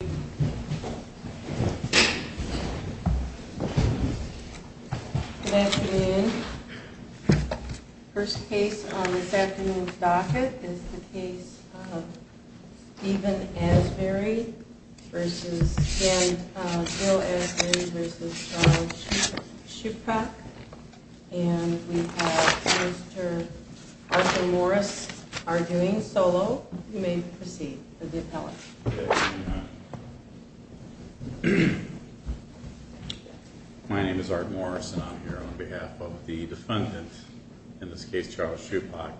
and we have Mr. Arthur Morris arguing solo. You may proceed with the appellate. My name is Art Morris and I'm here on behalf of the defendant, in this case Charles Schupbach.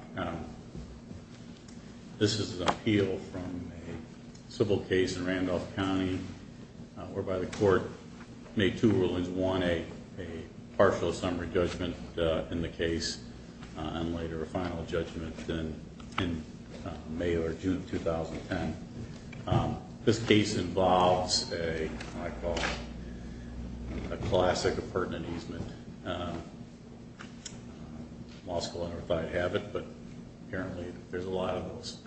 This is an appeal from a civil case in Randolph County whereby the court made two rulings. One a partial summary judgment in the case and later a final judgment in May or June of 2010. This case involves what I call a classic appurtenant easement. I'm also not sure if I have it but apparently there's a lot of those.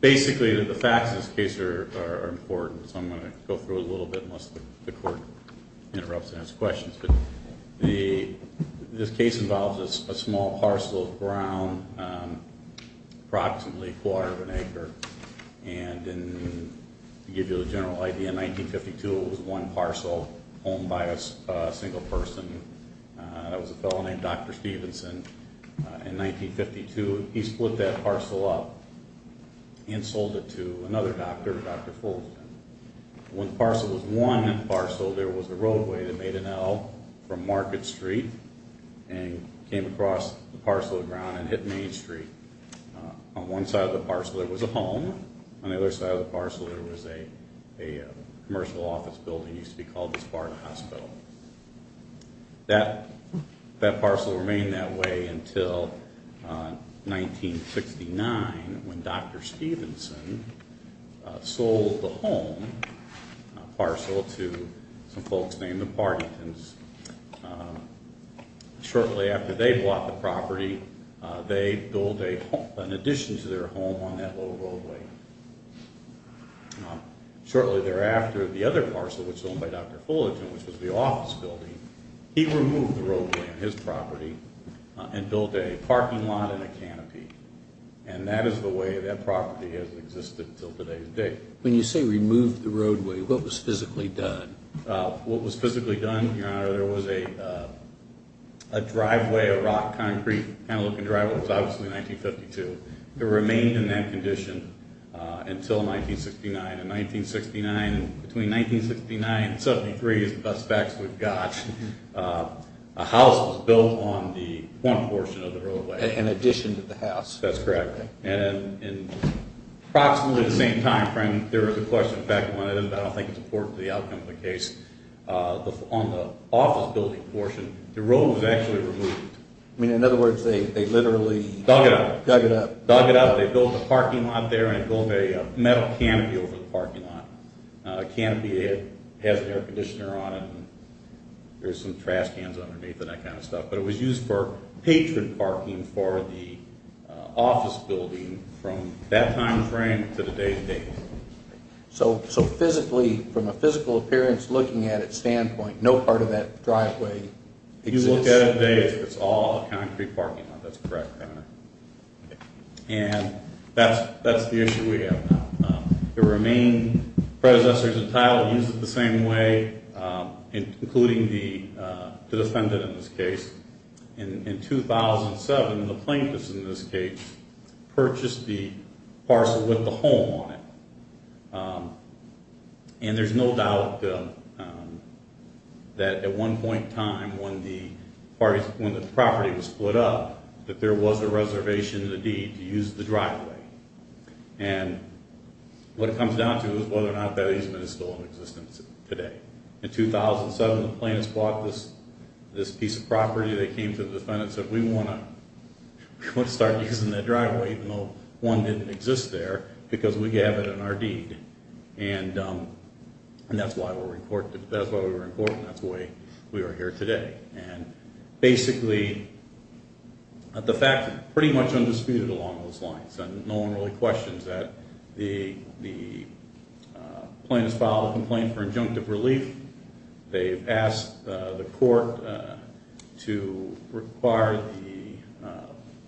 Basically the facts of this case are important so I'm going to go through it a little bit unless the court interrupts and has questions. This case involves a small parcel of ground, approximately a quarter of an acre. To give you a general idea, in 1952 it was one parcel owned by a single person. It was a fellow named Dr. Stevenson. In 1952 he split that parcel up and sold it to another doctor, Dr. Fulgham. When the parcel was won, there was a roadway that made an L from Market Street and came across the parcel of ground and hit Main Street. On one side of the parcel there was a home, on the other side of the parcel there was a commercial office building that used to be called the Spartan Hospital. That parcel remained that way until 1969 when Dr. Stevenson sold the home parcel to some folks named the Pardentons. Shortly after they bought the property, they built an addition to their home on that little roadway. Shortly thereafter, the other parcel, which was owned by Dr. Fulgham, which was the office building, he removed the roadway on his property and built a parking lot and a canopy. And that is the way that property has existed until today. When you say removed the roadway, what was physically done? What was physically done, Your Honor, there was a driveway, a rock concrete kind of looking driveway. It was obviously 1952. It remained in that condition until 1969. Between 1969 and 1973 is the best facts we've got. A house was built on the front portion of the roadway. An addition to the house. That's correct. And approximately at the same time frame, there was a question back from one of them, but I don't think it's important to the outcome of the case. On the office building portion, the road was actually removed. I mean, in other words, they literally dug it up. Dug it up. They built a parking lot there and built a metal canopy over the parking lot. A canopy that has an air conditioner on it and there's some trash cans underneath it and that kind of stuff. But it was used for patron parking for the office building from that time frame to today's date. So physically, from a physical appearance looking at it standpoint, no part of that driveway exists? If you look at it today, it's all a concrete parking lot. That's correct. And that's the issue we have now. It remained predecessor to title, used it the same way, including the defendant in this case. In 2007, the plaintiffs in this case purchased the parcel with the home on it. And there's no doubt that at one point in time when the property was split up, that there was a reservation in the deed to use the driveway. And what it comes down to is whether or not that easement is still in existence today. In 2007, the plaintiffs bought this piece of property. They came to the defendant and said, we want to start using that driveway even though one didn't exist there because we have it in our deed. And that's why we were in court and that's why we are here today. And basically, the facts are pretty much undisputed along those lines. No one really questions that. The plaintiffs filed a complaint for injunctive relief. They've asked the court to require the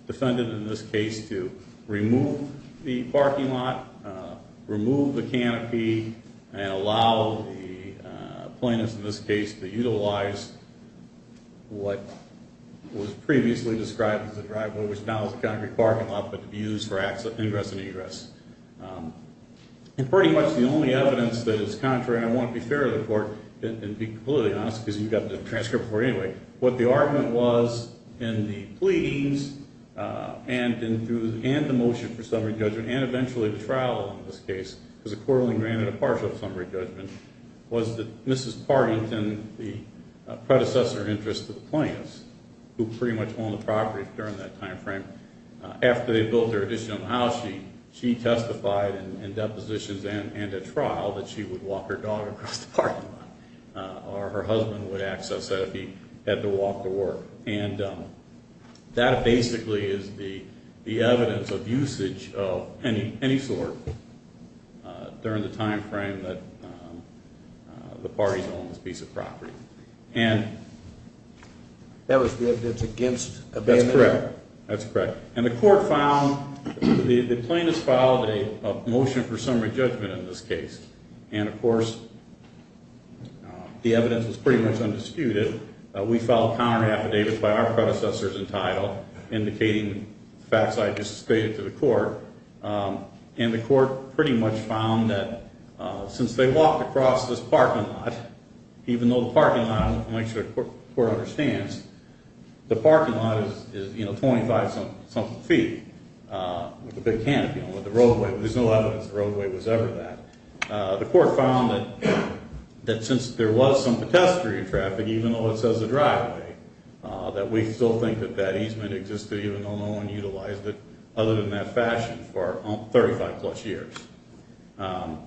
defendant in this case to remove the parking lot, remove the canopy, and allow the plaintiffs in this case to utilize what was previously described as a driveway, which now is a concrete parking lot, but to be used for ingress and egress. And pretty much the only evidence that is contrary, and I want to be fair to the court, and be completely honest because you got the transcript before anyway, what the argument was in the pleadings and the motion for summary judgment and eventually the trial in this case, because the court only granted a partial summary judgment, was that Mrs. Partington, the predecessor in interest to the plaintiffs, who pretty much owned the property during that time frame, after they built their additional house, she testified in depositions and at trial that she would walk her dog across the parking lot or her husband would access that if he had to walk to work. And that basically is the evidence of usage of any sort during the time frame that the parties own this piece of property. And that was the evidence against abandonment? That's correct. That's correct. And the court found, the plaintiffs filed a motion for summary judgment in this case, and of course the evidence was pretty much undisputed. We filed counter affidavits by our predecessors entitled, indicating facts I just stated to the court, and the court pretty much found that since they walked across this parking lot, even though the parking lot, I'll make sure the court understands, the parking lot is 25-something feet with a big canopy on it, there's no evidence the roadway was ever that. The court found that since there was some pedestrian traffic, even though it says a driveway, that we still think that that easement existed even though no one utilized it other than that fashion for 35 plus years. The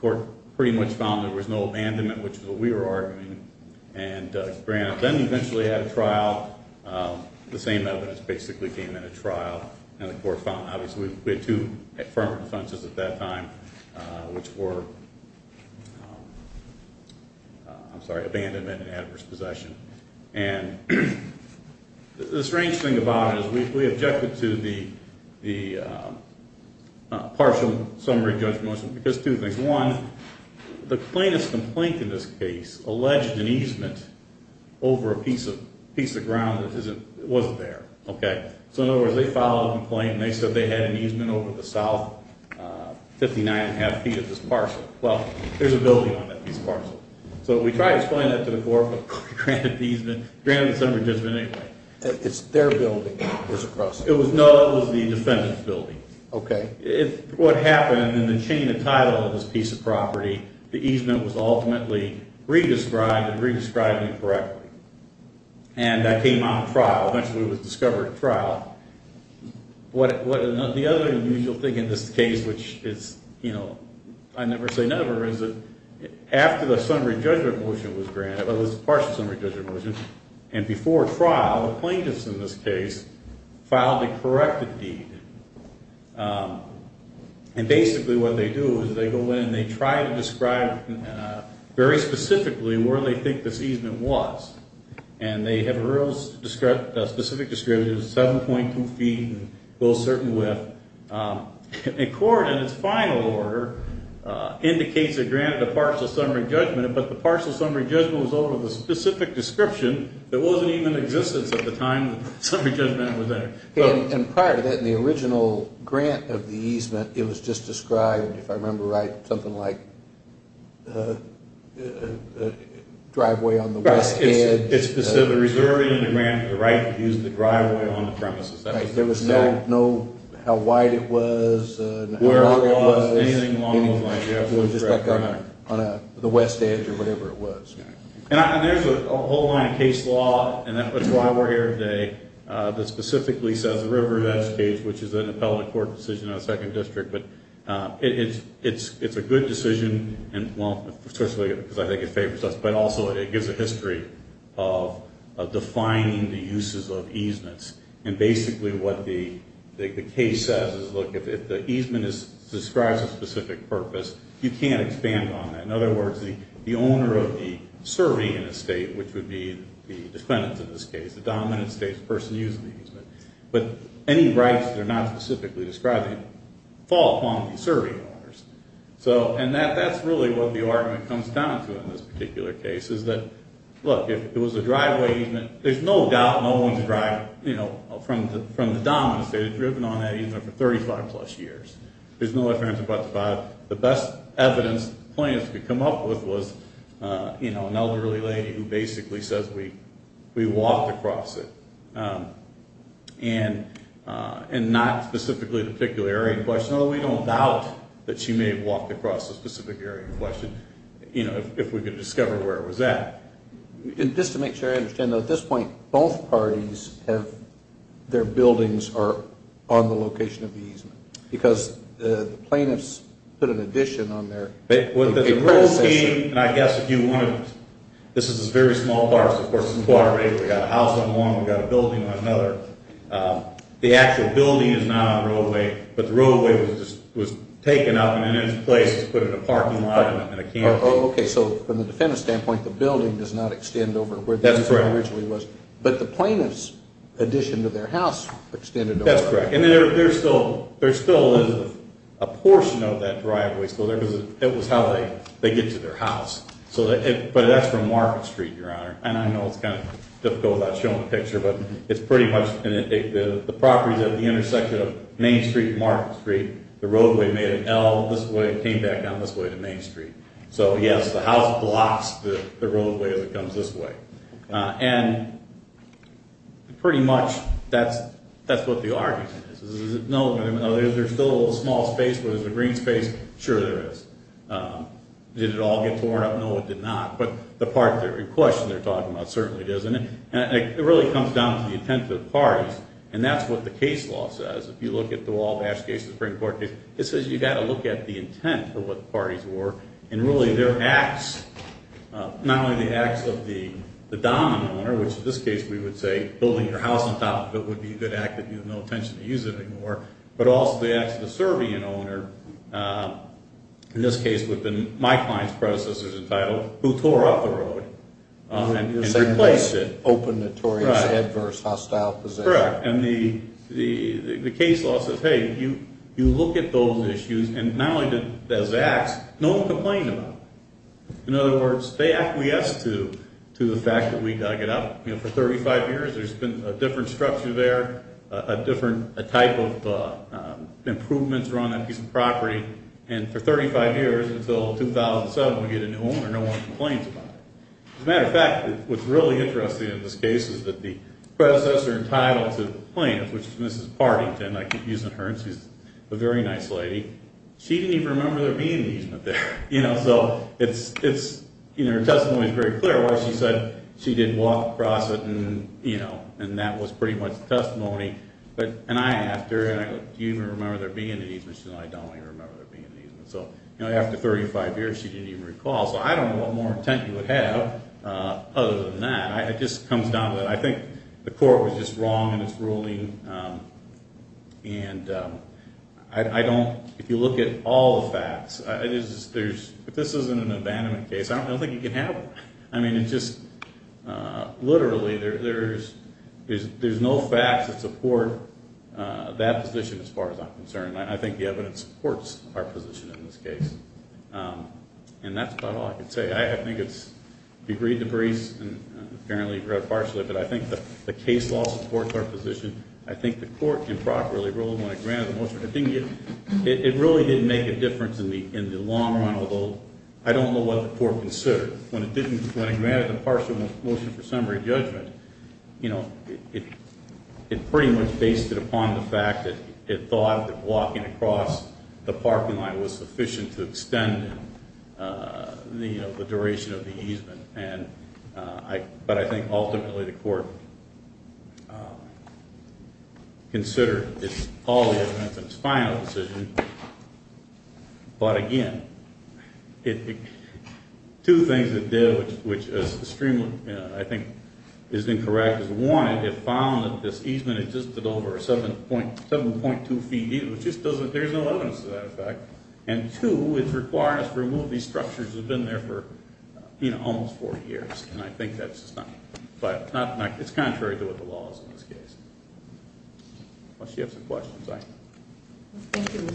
court pretty much found there was no abandonment, which is what we were arguing, and then eventually had a trial, the same evidence basically came in a trial, and the court found, obviously we had two affirmative defenses at that time, which were, I'm sorry, abandonment and adverse possession. And the strange thing about it is we objected to the partial summary judgment because two things. One, the plainest complaint in this case alleged an easement over a piece of ground that wasn't there. So in other words, they filed a complaint and they said they had an easement over the south 59.5 feet of this parcel. Well, there's a building on that piece of parcel. So we tried to explain that to the court, but granted the easement, granted the summary judgment anyway. It's their building. No, it was the defendant's building. Okay. What happened in the chain of title of this piece of property, the easement was ultimately re-described and re-described incorrectly. And that came out in trial. Eventually it was discovered in trial. The other unusual thing in this case, which is, you know, I never say never, is that after the summary judgment motion was granted, well, it was a partial summary judgment motion, and before trial, the plaintiffs in this case filed a corrected deed. And basically what they do is they go in and they try to describe very specifically where they think this easement was. And they have a real specific description, 7.2 feet, and go a certain width. And court, in its final order, indicates they granted a partial summary judgment, but the partial summary judgment was over the specific description that wasn't even in existence at the time the summary judgment was there. And prior to that, in the original grant of the easement, it was just described, if I remember right, something like driveway on the west end. It's specifically reserved in the grant for the right to use the driveway on the premises. There was no how wide it was, how long it was, anything along those lines. It was just like on the west edge or whatever it was. And there's a whole line of case law, and that's why we're here today, that specifically says the river in that case, which is an appellate court decision on the second district. But it's a good decision, especially because I think it favors us, but also it gives a history of defining the uses of easements. And basically what the case says is, look, if the easement describes a specific purpose, you can't expand on that. In other words, the owner of the serene estate, which would be the defendant in this case, the dominant estate, the person using the easement, but any rights that are not specifically describing it fall upon the serving owners. And that's really what the argument comes down to in this particular case, is that, look, if it was a driveway easement, there's no doubt no one's driving from the dominant estate. They've driven on that easement for 35 plus years. There's no difference about the five. The best evidence plaintiffs could come up with was an elderly lady who basically says we walked across it. And not specifically the particular area in question, although we don't doubt that she may have walked across a specific area in question, if we could discover where it was at. Just to make sure I understand, at this point, both parties have their buildings on the location of the easement, because the plaintiffs put an addition on there. The roadway, and I guess if you wanted, this is a very small part, so of course it's a quarter of an acre. We've got a house on one, we've got a building on another. The actual building is not on the roadway, but the roadway was taken up and then it's placed, put in a parking lot in a camp. Okay, so from the defendant's standpoint, the building does not extend over where the easement originally was. That's correct. But the plaintiffs' addition to their house extended over. That's correct. And there still is a portion of that driveway still there, because it was how they get to their house. But that's from Market Street, Your Honor, and I know it's kind of difficult without showing a picture, but it's pretty much the properties at the intersection of Main Street and Market Street, the roadway made an L this way and came back down this way to Main Street. So yes, the house blocks the roadway as it comes this way. And pretty much that's what the argument is. Is there still a little small space where there's a green space? Sure there is. Did it all get torn up? No, it did not. But the part of the question they're talking about certainly does. And it really comes down to the intent of the parties, and that's what the case law says. If you look at the Wabash case, the Supreme Court case, it says you've got to look at the intent of what the parties were, and really their acts, not only the acts of the dominant owner, which in this case we would say building your house on top of it would be a good act if you have no intention to use it anymore, but also the acts of the Serbian owner, in this case with my client's predecessors entitled, who tore up the road and replaced it. Open, notorious, adverse, hostile position. Correct. And the case law says, hey, you look at those issues, and not only did those acts, no one complained about them. In other words, they acquiesced to the fact that we dug it up. You know, for 35 years there's been a different structure there, a different type of improvements around that piece of property, and for 35 years until 2007 we get a new owner, no one complains about it. As a matter of fact, what's really interesting in this case is that the predecessor entitled to the plaintiff, which is Mrs. Partington, I keep using her, and she's a very nice lady, she didn't even remember there being an easement there. You know, so it's, you know, her testimony is very clear why she said she didn't walk across it and, you know, and that was pretty much the testimony, and I asked her, and I go, do you even remember there being an easement? She said, I don't even remember there being an easement. So, you know, after 35 years she didn't even recall, so I don't know what more intent you would have other than that. It just comes down to that I think the court was just wrong in its ruling, and I don't, if you look at all the facts, there's, if this isn't an abandonment case, I don't think you can have it. I mean, it just, literally, there's no facts that support that position as far as I'm concerned. I think the evidence supports our position in this case, and that's about all I can say. I think it's agreed to briefs, and apparently you've read it partially, but I think the case law supports our position. I think the court improperly ruled when it granted the motion. It really didn't make a difference in the long run, although I don't know what the court considered. When it didn't, when it granted the partial motion for summary judgment, you know, it pretty much based it upon the fact that it thought that walking across the parking lot was sufficient to extend the duration of the easement, but I think ultimately the court considered all the evidence in its final decision. But again, two things it did, which is extremely, I think, is incorrect is one, it found that this easement existed over 7.2 feet, which just doesn't, there's no evidence to that effect, and two, it's required us to remove these structures that have been there for, you know, almost 40 years, and I think that's just not, it's contrary to what the law is in this case. Unless you have some questions. Thank you.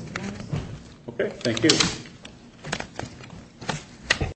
Okay, thank you.